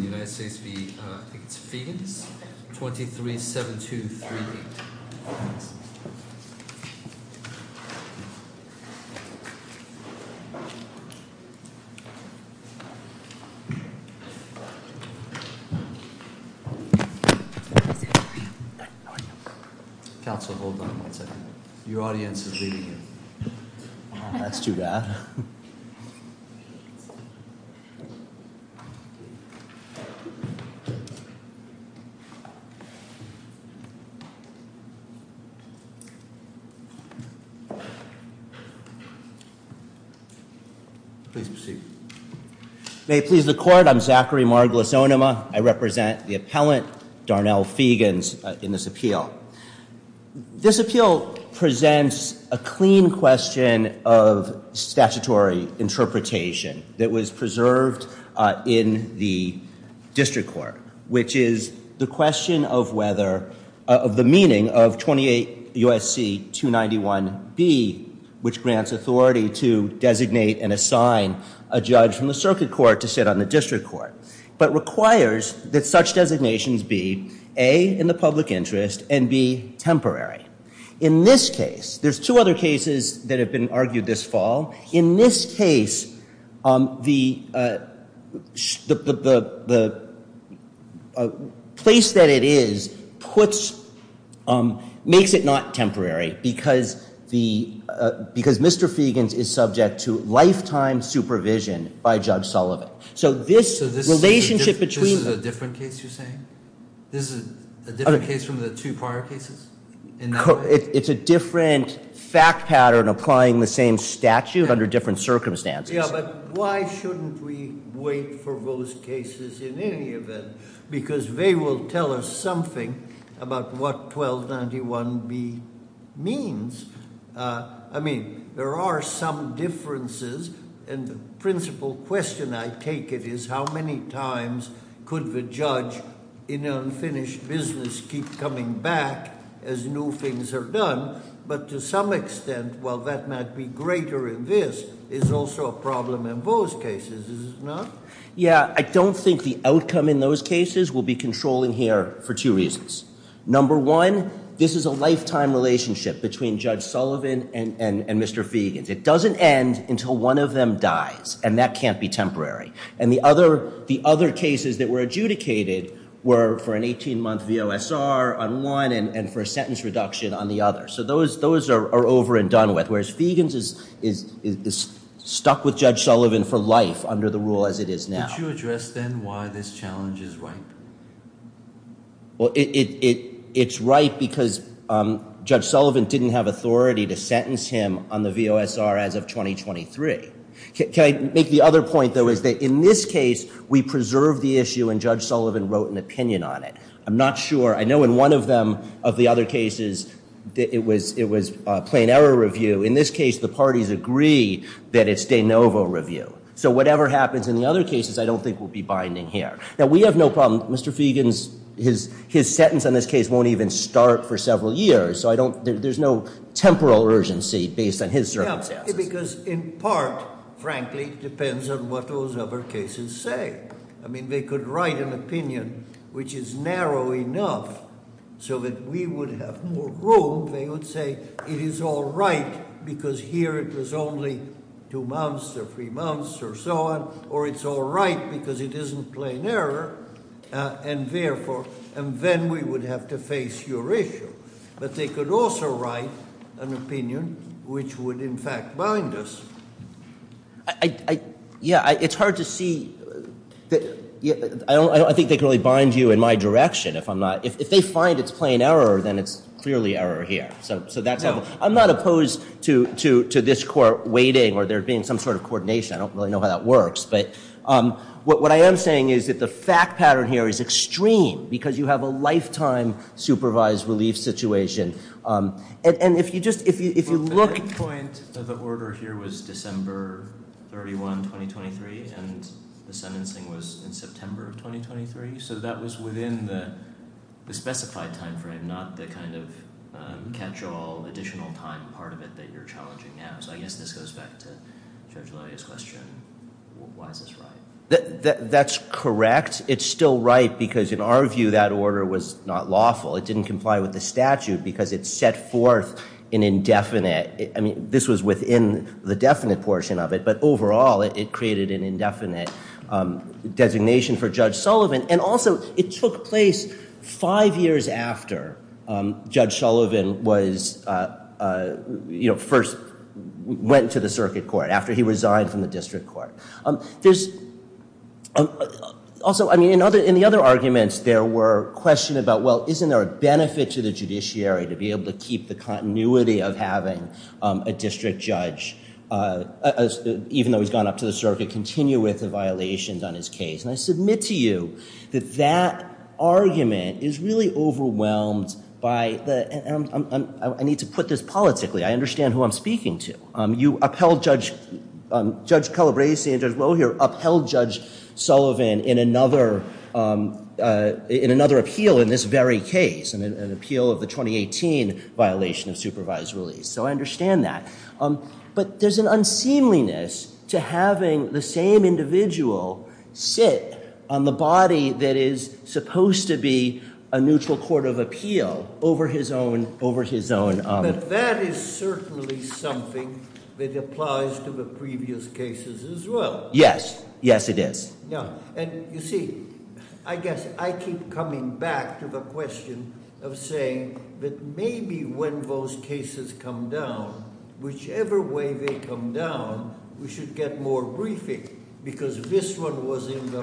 23-7238. Council, hold on one second. Your audience is leaving. That's too bad. Please proceed. May it please the court. I'm Zachary Margulis Onuma. I represent the appellant, Darnell Feagins, in this appeal. This appeal presents a clean question of statutory interpretation that was preserved in the district court, which is the question of the meaning of 28 U.S.C. 291b, which grants authority to designate and assign a judge from the circuit court to sit on the district court, but requires that such designations be A, in the public interest, and B, temporary. In this case, there's two other cases that have been argued this fall. In this case, the place that it is makes it not temporary because Mr. Feagins is subject to lifetime supervision by Judge Sullivan. So this relationship between... This is a different case you're saying? This is a different case from the two prior cases in that way? It's a different fact pattern applying the same statute under different circumstances. Yeah, but why shouldn't we wait for those cases in any event? Because they will tell us something about what 1291b means. I mean, there are some differences, and the principal question I take it is how many times could the judge in an unfinished business keep coming back as new things are done? But to some extent, while that might be greater in this, it's also a problem in those cases, is it not? Yeah, I don't think the outcome in those cases will be controlling here for two reasons. Number one, this is a lifetime relationship between Judge Sullivan and Mr. Feagins. It doesn't end until one of them dies, and that can't be temporary. And the other cases that were adjudicated were for an 18-month VOSR on one and for a sentence reduction on the other. So those are over and done with, whereas Feagins is stuck with Judge Sullivan for life under the rule as it is now. Could you address then why this challenge is ripe? Well, it's ripe because Judge Sullivan didn't have authority to sentence him on the VOSR as of 2023. Can I make the other point, though, is that in this case, we preserved the issue and Judge Sullivan wrote an opinion on it. I'm not sure. I know in one of them, of the other cases, it was a plain error review. In this case, the parties agree that it's de novo review. So whatever happens in the other cases, I don't think will be binding here. Now, we have no problem. Mr. Feagins, his sentence on this case won't even start for several years. So I don't, there's no temporal urgency based on his circumstances. Yeah, because in part, frankly, depends on what those other cases say. I mean, they could write an opinion which is narrow enough so that we would have more room. They would say it is all right because here it was only two months or three months or so on, or it's all right because it isn't plain error, and therefore, and then we would have to face your issue. But they could also write an opinion which would, in fact, bind us. I, yeah, it's hard to see, I don't, I think they could really bind you in my direction if I'm not, if they find it's plain error, then it's clearly error here. So that's, I'm not opposed to this court waiting or there being some sort of coordination. I don't really know how that works, but what I am saying is that the fact pattern here is extreme because you have a lifetime supervised relief situation. And if you just, if you look. The point of the order here was December 31, 2023, and the sentencing was in September of 2023. So that was within the specified time frame, not the kind of catch-all additional time part of it that you're challenging now. So I guess this goes back to Judge Luria's question, why is this right? That's correct. It's still right because in our view, that order was not lawful. It didn't comply with the statute because it set forth an indefinite, I mean, this was within the definite portion of it, but overall, it created an indefinite designation for Judge Sullivan. And also, it took place five years after Judge Sullivan was, you know, first went to the circuit court, after he resigned from the district court. There's also, I mean, in the other arguments, there were questions about, well, isn't there a benefit to the judiciary to be able to keep the continuity of having a district judge, even though he's gone up to the circuit, continue with the violations on his case? And I submit to you that that argument is really overwhelmed by the, and I need to put this politically. I understand who I'm speaking to. You upheld Judge Calabresi and Judge Luria upheld Judge Sullivan in another appeal in this very case, an appeal of the 2018 violation of supervised release. So I understand that. But there's an unseemliness to having the same individual sit on the body that is supposed to be a neutral court of appeal over his own, over his own. But that is certainly something that applies to the previous cases as well. Yes. Yes, it is. Yeah. And you see, I guess I keep coming back to the question of saying that maybe when those cases come down, whichever way they come down, we should get more briefing. Because this one was in the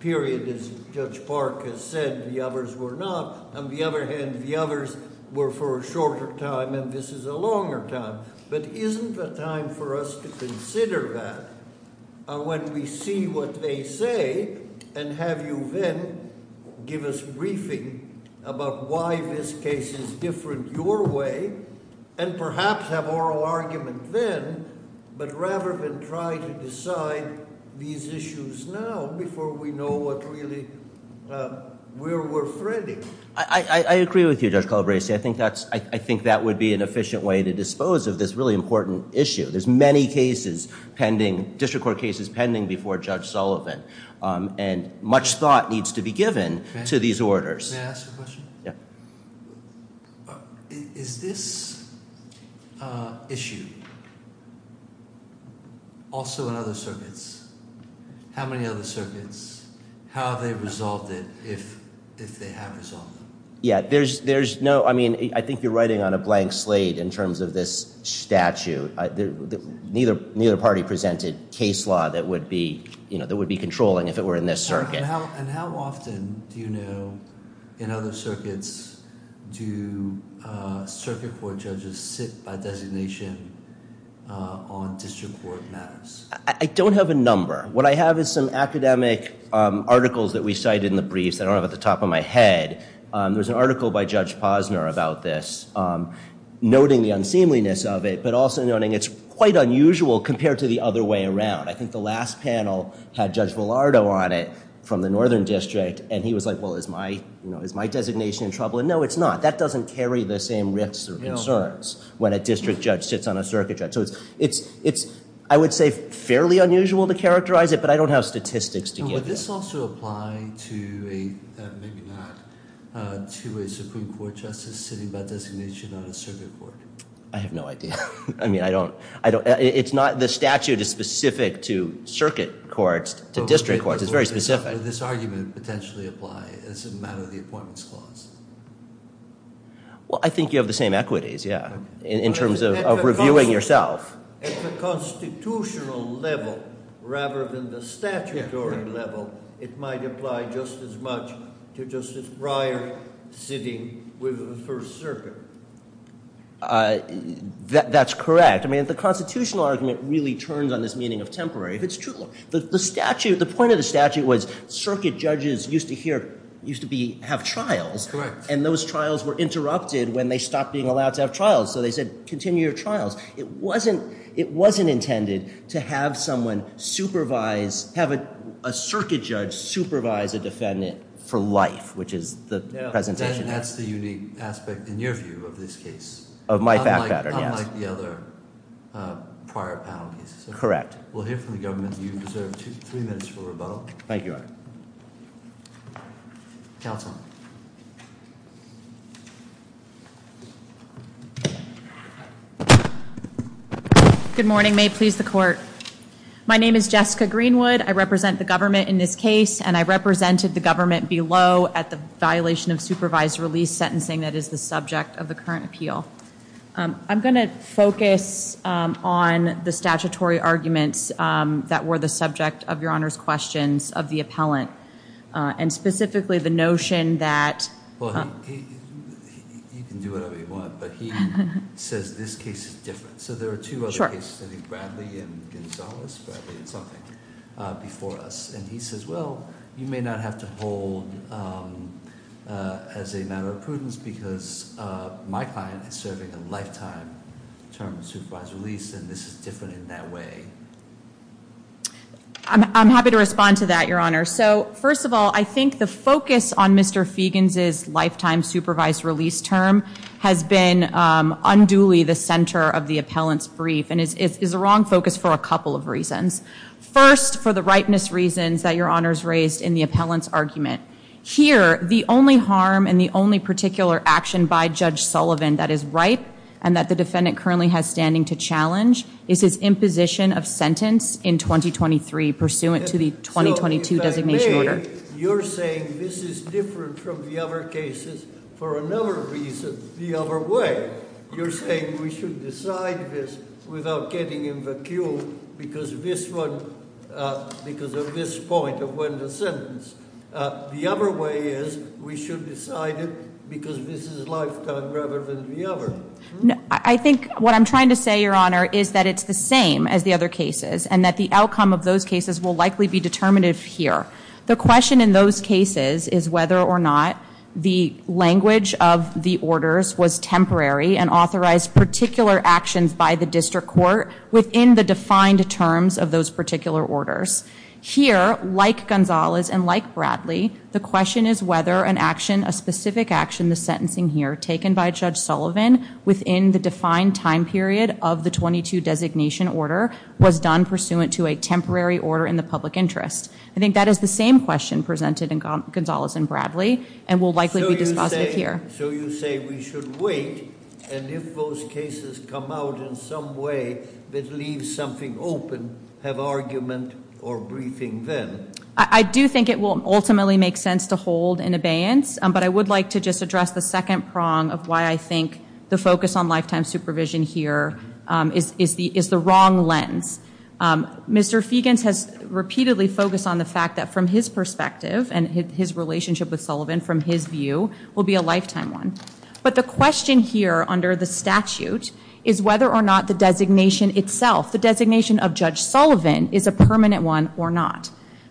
period, as Judge Park has said, the others were not. On the other hand, the others were for a shorter time and this is a longer time. But isn't the time for us to consider that when we see what they say and have you then give us briefing about why this case is different your way and perhaps have oral argument then, but rather than try to decide these issues now before we know what really, where we're threading. I agree with you, Judge Calabresi. I think that's, I think that would be an efficient way to dispose of this really important issue. There's many cases pending, district court cases pending before Judge Sullivan. And much thought needs to be given to these orders. May I ask a question? Yeah. Is this issue also in other circuits? How many other circuits? How have they resolved it if they have resolved it? Yeah, there's no, I mean, I think you're writing on a blank slate in terms of this statute. Neither party presented case law that would be, you know, that would be controlling if it were in this circuit. And how often do you know in other circuits do circuit court judges sit by designation on district court matters? I don't have a number. What I have is some academic articles that we cited in the briefs that I don't have at the top of my head. There's an article by Judge Posner about this, noting the unseemliness of it, but also noting it's quite unusual compared to the other way around. I think the last panel had Judge Villardo on it from the Northern District. And he was like, well, is my designation in trouble? And no, it's not. That doesn't carry the same risks or concerns when a district judge sits on a circuit judge. So it's, I would say, fairly unusual to characterize it, but I don't have statistics to give you. Would this also apply to a, maybe not, to a Supreme Court justice sitting by designation on a circuit court? I have no idea. I mean, I don't, it's not, the statute is specific to circuit courts, to district courts. It's very specific. Would this argument potentially apply as a matter of the appointments clause? Well, I think you have the same equities, yeah, in terms of reviewing yourself. At the constitutional level, rather than the statutory level, it might apply just as much to Justice Breyer sitting with the First Circuit. That's correct. I mean, the constitutional argument really turns on this meaning of temporary. If it's true, the statute, the point of the statute was circuit judges used to hear, used to be, have trials. Correct. And those trials were interrupted when they stopped being allowed to have trials. So they said, continue your trials. It wasn't intended to have someone supervise, have a circuit judge supervise a defendant for life, which is the presentation. And that's the unique aspect, in your view, of this case. Of my fact pattern, yes. Unlike the other prior panel cases. Correct. We'll hear from the government. You deserve three minutes for rebuttal. Thank you, Your Honor. Counsel. Good morning. May it please the court. My name is Jessica Greenwood. I represent the government in this case. And I represented the government below at the violation of supervised release sentencing that is the subject of the current appeal. I'm going to focus on the statutory arguments that were the subject of Your Honor's questions of the appellant. And specifically the notion that. Well, you can do whatever you want. But he says this case is different. So there are two other cases. I think Bradley and Gonzalez, Bradley and something, before us. And he says, well, you may not have to hold as a matter of prudence because my client is serving a lifetime term of supervised release. And this is different in that way. I'm happy to respond to that, Your Honor. So, first of all, I think the focus on Mr. Feigens' lifetime supervised release term has been unduly the center of the appellant's brief. And it's the wrong focus for a couple of reasons. First, for the ripeness reasons that Your Honor's raised in the appellant's argument. Here, the only harm and the only particular action by Judge Sullivan that is ripe and that the defendant currently has standing to challenge is his imposition of sentence in 2023. Pursuant to the 2022 designation order. You're saying this is different from the other cases for another reason, the other way. You're saying we should decide this without getting in the queue because of this point of when the sentence. The other way is we should decide it because this is lifetime rather than the other. I think what I'm trying to say, Your Honor, is that it's the same as the other cases. And that the outcome of those cases will likely be determinative here. The question in those cases is whether or not the language of the orders was temporary and authorized particular actions by the district court within the defined terms of those particular orders. Here, like Gonzalez and like Bradley, the question is whether an action, a specific action, the sentencing here, taken by Judge Sullivan within the defined time period of the 22 designation order was done pursuant to a temporary order in the public interest. I think that is the same question presented in Gonzalez and Bradley and will likely be dispositive here. So you say we should wait, and if those cases come out in some way that leaves something open, have argument or briefing then. I do think it will ultimately make sense to hold an abeyance. But I would like to just address the second prong of why I think the focus on lifetime supervision here is the wrong lens. Mr. Feigens has repeatedly focused on the fact that from his perspective and his relationship with Sullivan, from his view, will be a lifetime one. But the question here under the statute is whether or not the designation itself, the designation of Judge Sullivan, is a permanent one or not.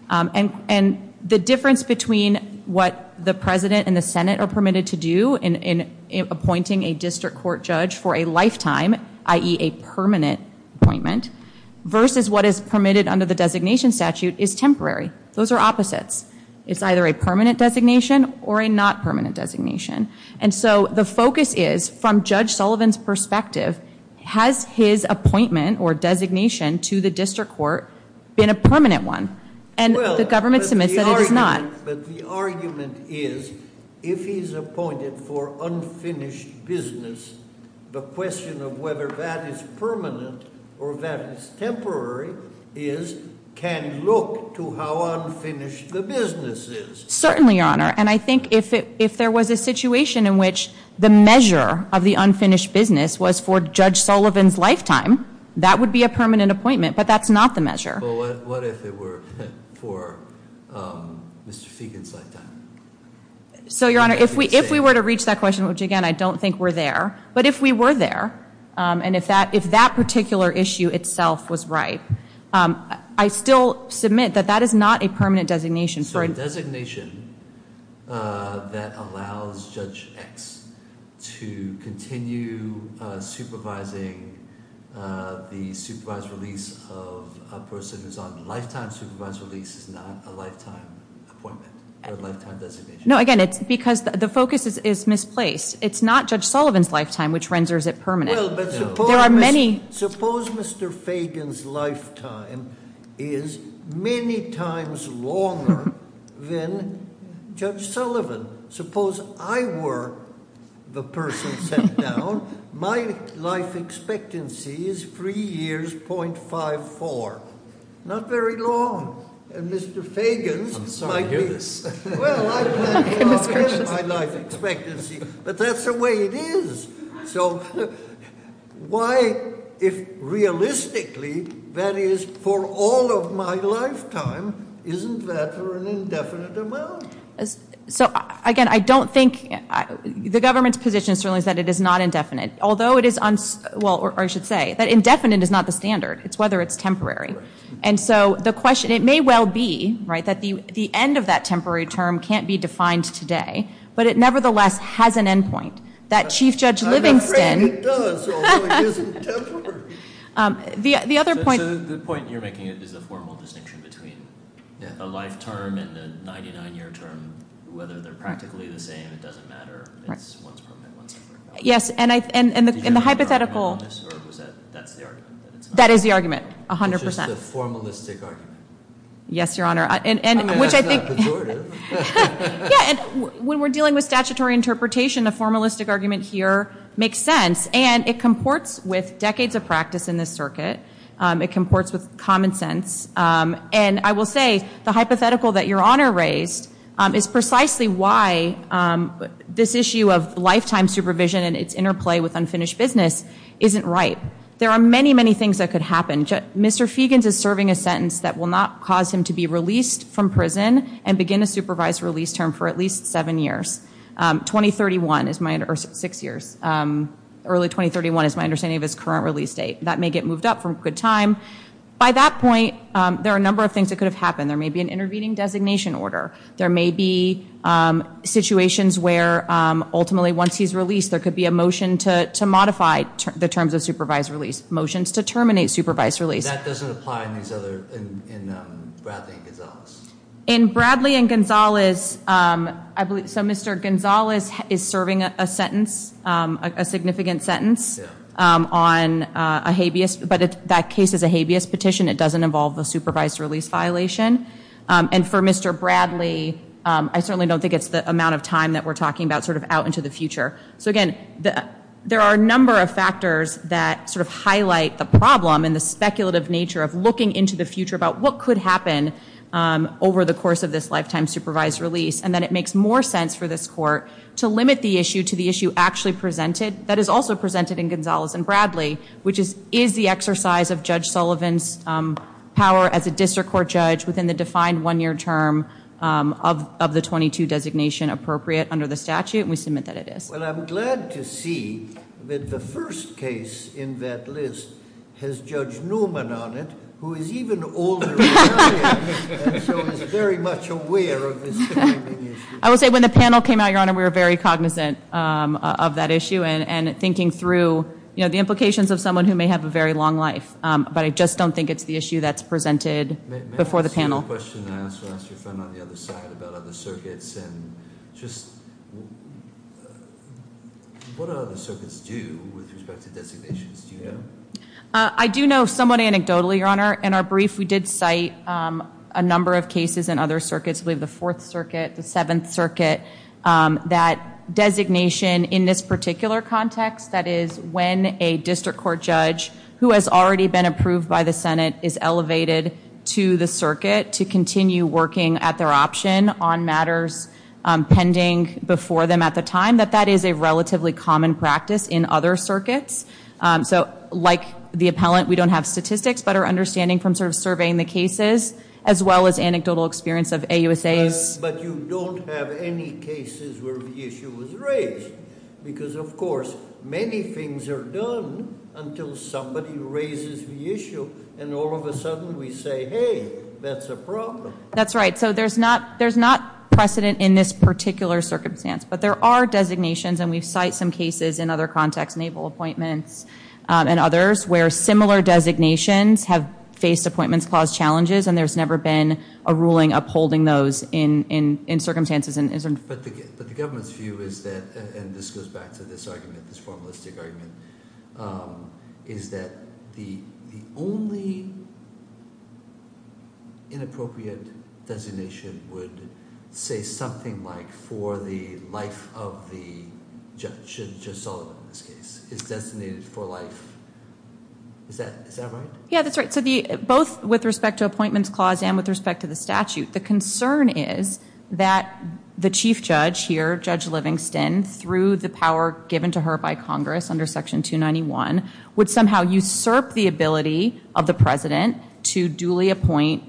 And the difference between what the President and the Senate are permitted to do in appointing a district court judge for a lifetime, i.e. a permanent appointment, versus what is permitted under the designation statute is temporary. Those are opposites. It's either a permanent designation or a not permanent designation. And so the focus is from Judge Sullivan's perspective, has his appointment or designation to the district court been a permanent one? And the government submits that it is not. But the argument is if he's appointed for unfinished business, the question of whether that is permanent or that is temporary is can look to how unfinished the business is. Certainly, Your Honor. And I think if there was a situation in which the measure of the unfinished business was for Judge Sullivan's lifetime, that would be a permanent appointment. But that's not the measure. But what if it were for Mr. Feigens' lifetime? So, Your Honor, if we were to reach that question, which, again, I don't think we're there. But if we were there, and if that particular issue itself was right, I still submit that that is not a permanent designation. So a designation that allows Judge X to continue supervising the supervised release of a person who's on lifetime supervised release is not a lifetime appointment or a lifetime designation? No, again, it's because the focus is misplaced. It's not Judge Sullivan's lifetime, which renders it permanent. Well, but suppose Mr. Feigens' lifetime is many times longer. Then, Judge Sullivan, suppose I were the person sent down. My life expectancy is three years, 0.54. Not very long. And Mr. Feigens- I'm sorry to hear this. Well, I plan to offer him my life expectancy. But that's the way it is. So why, if realistically, that is for all of my lifetime, isn't that for an indefinite amount? So, again, I don't think, the government's position certainly is that it is not indefinite. Although it is, well, or I should say that indefinite is not the standard. It's whether it's temporary. And so the question, it may well be, right, that the end of that temporary term can't be defined today. But it nevertheless has an endpoint. That Chief Judge Livingston- I'm afraid it does. Although it isn't temporary. The other point- So the point you're making is the formal distinction between a life term and a 99-year term. Whether they're practically the same, it doesn't matter. It's once permanent, once temporary. Yes. And the hypothetical- Do you have any problem with this? Or was that, that's the argument? That is the argument, 100%. Which is the formalistic argument. Yes, Your Honor. I mean, that's not pejorative. When we're dealing with statutory interpretation, the formalistic argument here makes sense. And it comports with decades of practice in this circuit. It comports with common sense. And I will say, the hypothetical that Your Honor raised is precisely why this issue of lifetime supervision and its interplay with unfinished business isn't ripe. There are many, many things that could happen. Mr. Feigens is serving a sentence that will not cause him to be released from prison and begin a supervised release term for at least seven years. 2031 is my- or six years. Early 2031 is my understanding of his current release date. That may get moved up from a good time. By that point, there are a number of things that could have happened. There may be an intervening designation order. There may be situations where, ultimately, once he's released, there could be a motion to modify the terms of supervised release. Motions to terminate supervised release. That doesn't apply in these other- in Bradley and Gonzales. In Bradley and Gonzales, I believe- so Mr. Gonzales is serving a sentence, a significant sentence on a habeas- but that case is a habeas petition. It doesn't involve the supervised release violation. And for Mr. Bradley, I certainly don't think it's the amount of time that we're talking about sort of out into the future. So, again, there are a number of factors that sort of highlight the problem and the speculative nature of looking into the future about what could happen over the course of this lifetime supervised release. And then it makes more sense for this court to limit the issue to the issue actually presented. That is also presented in Gonzales and Bradley, which is the exercise of Judge Sullivan's power as a district court judge within the defined one-year term of the 22 designation appropriate under the statute. And we submit that it is. Well, I'm glad to see that the first case in that list has Judge Newman on it, who is even older than I am and so is very much aware of this demanding issue. I will say when the panel came out, Your Honor, we were very cognizant of that issue and thinking through the implications of someone who may have a very long life. But I just don't think it's the issue that's presented before the panel. I have a question that I also asked your friend on the other side about other circuits. And just what do other circuits do with respect to designations? Do you know? I do know somewhat anecdotally, Your Honor. In our brief, we did cite a number of cases in other circuits, I believe the Fourth Circuit, the Seventh Circuit, that designation in this particular context, that is, when a district court judge who has already been approved by the Senate is elevated to the circuit to continue working at their option on matters pending before them at the time, that that is a relatively common practice in other circuits. So like the appellant, we don't have statistics, but our understanding from sort of surveying the cases as well as anecdotal experience of AUSAs. But you don't have any cases where the issue was raised because, of course, many things are done until somebody raises the issue, and all of a sudden we say, hey, that's a problem. That's right. So there's not precedent in this particular circumstance. But there are designations, and we cite some cases in other contexts, naval appointments and others, where similar designations have faced appointments clause challenges, and there's never been a ruling upholding those in circumstances. But the government's view is that, and this goes back to this argument, this formalistic argument, is that the only inappropriate designation would say something like for the life of the judge, Judge Sullivan in this case, is designated for life. Is that right? Yeah, that's right. So both with respect to appointments clause and with respect to the statute, the concern is that the chief judge here, Judge Livingston, through the power given to her by Congress under Section 291, would somehow usurp the ability of the president to duly appoint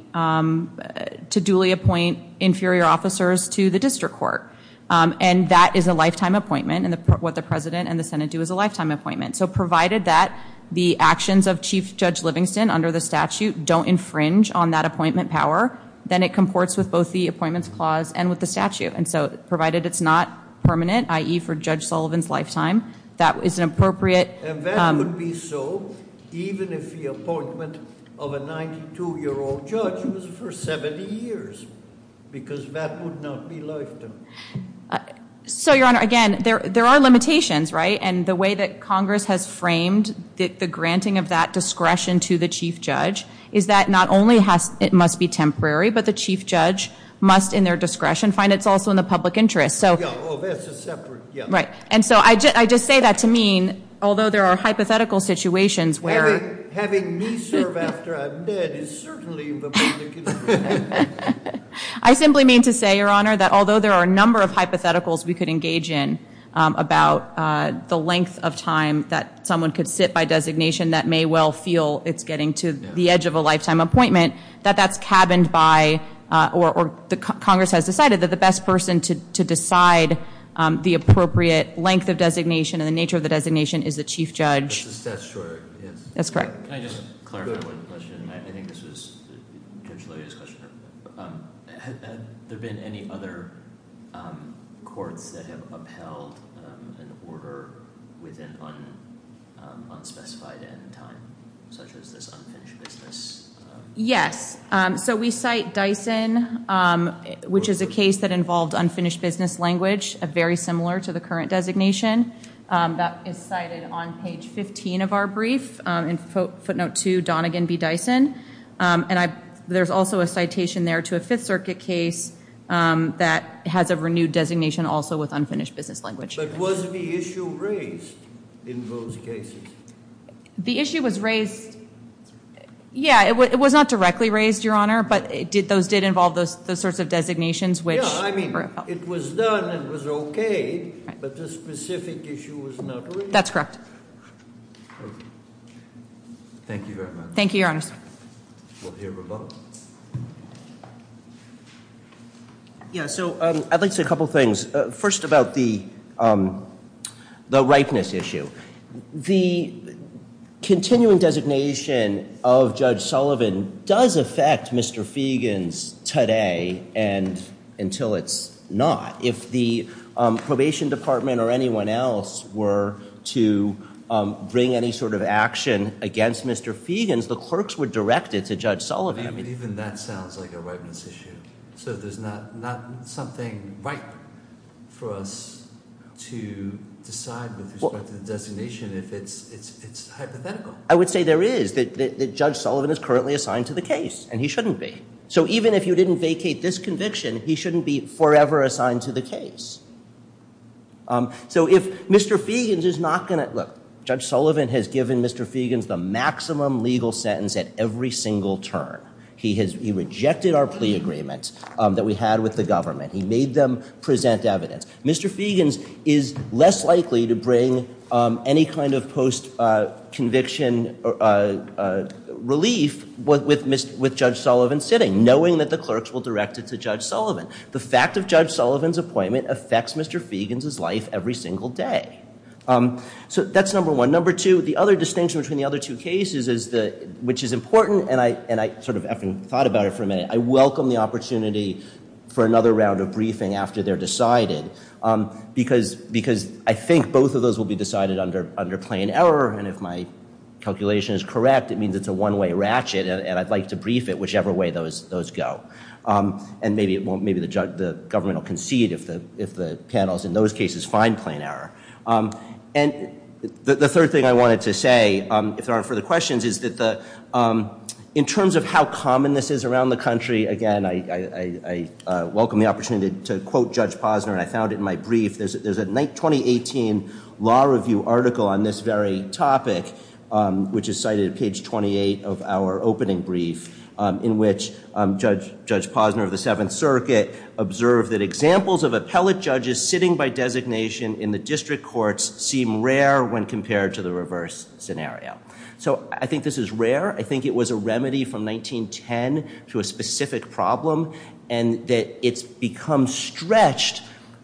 inferior officers to the district court. And that is a lifetime appointment, and what the president and the Senate do is a lifetime appointment. So provided that the actions of Chief Judge Livingston under the statute don't infringe on that appointment power, then it comports with both the appointments clause and with the statute. And so provided it's not permanent, i.e. for Judge Sullivan's lifetime, that is an appropriate- And that would be so even if the appointment of a 92-year-old judge was for 70 years, because that would not be lifetime. So, Your Honor, again, there are limitations, right? And the way that Congress has framed the granting of that discretion to the chief judge is that not only it must be temporary, but the chief judge must, in their discretion, find it's also in the public interest. Oh, that's a separate- Right. And so I just say that to mean, although there are hypothetical situations where- Having me serve after I'm dead is certainly in the public interest. I simply mean to say, Your Honor, that although there are a number of hypotheticals we could engage in about the length of time that someone could sit by designation that may well feel it's getting to the edge of a lifetime appointment, that that's cabined by, or Congress has decided that the best person to decide the appropriate length of designation and the nature of the designation is the chief judge. But the statute, yes. That's correct. Can I just clarify one question? I think this was Judge Lillia's question. Have there been any other courts that have upheld an order within unspecified end time, such as this unfinished business? Yes. So we cite Dyson, which is a case that involved unfinished business language, very similar to the current designation. That is cited on page 15 of our brief in footnote 2, Donegan v. Dyson. And there's also a citation there to a Fifth Circuit case that has a renewed designation also with unfinished business language. But was the issue raised in those cases? The issue was raised- Yeah, it was not directly raised, Your Honor, but those did involve those sorts of designations, which- No, I mean, it was done, it was okay, but the specific issue was not raised. That's correct. Thank you very much. Thank you, Your Honor. We'll hear from Bob. Yeah, so I'd like to say a couple things. First about the ripeness issue. The continuing designation of Judge Sullivan does affect Mr. Feigens today and until it's not. If the probation department or anyone else were to bring any sort of action against Mr. Feigens, the clerks would direct it to Judge Sullivan. Even that sounds like a ripeness issue. So there's not something ripe for us to decide with respect to the designation if it's hypothetical. I would say there is. Judge Sullivan is currently assigned to the case and he shouldn't be. So even if you didn't vacate this conviction, he shouldn't be forever assigned to the case. So if Mr. Feigens is not going to- Look, Judge Sullivan has given Mr. Feigens the maximum legal sentence at every single turn. He rejected our plea agreement that we had with the government. He made them present evidence. Mr. Feigens is less likely to bring any kind of post-conviction relief with Judge Sullivan sitting, knowing that the clerks will direct it to Judge Sullivan. The fact of Judge Sullivan's appointment affects Mr. Feigens' life every single day. So that's number one. Number two, the other distinction between the other two cases, which is important, and I sort of haven't thought about it for a minute, I welcome the opportunity for another round of briefing after they're decided because I think both of those will be decided under plain error. And if my calculation is correct, it means it's a one-way ratchet and I'd like to brief it whichever way those go. And maybe the government will concede if the panels in those cases find plain error. And the third thing I wanted to say, if there aren't further questions, is that in terms of how common this is around the country, again, I welcome the opportunity to quote Judge Posner, and I found it in my brief. There's a 2018 law review article on this very topic, which is cited at page 28 of our opening brief, in which Judge Posner of the Seventh Circuit observed that examples of appellate judges sitting by designation in the district courts seem rare when compared to the reverse scenario. So I think this is rare. I think it was a remedy from 1910 to a specific problem and that it's become stretched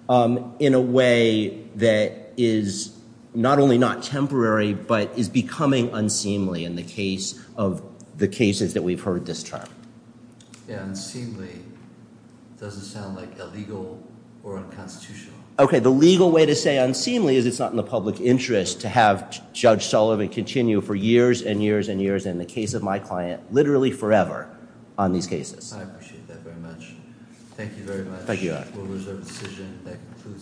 in a way that is not only not temporary, but is becoming unseemly in the case of the cases that we've heard this term. Unseemly doesn't sound like illegal or unconstitutional. Okay, the legal way to say unseemly is it's not in the public interest to have Judge Sullivan continue for years and years and years in the case of my client literally forever on these cases. I appreciate that very much. Thank you very much. Thank you.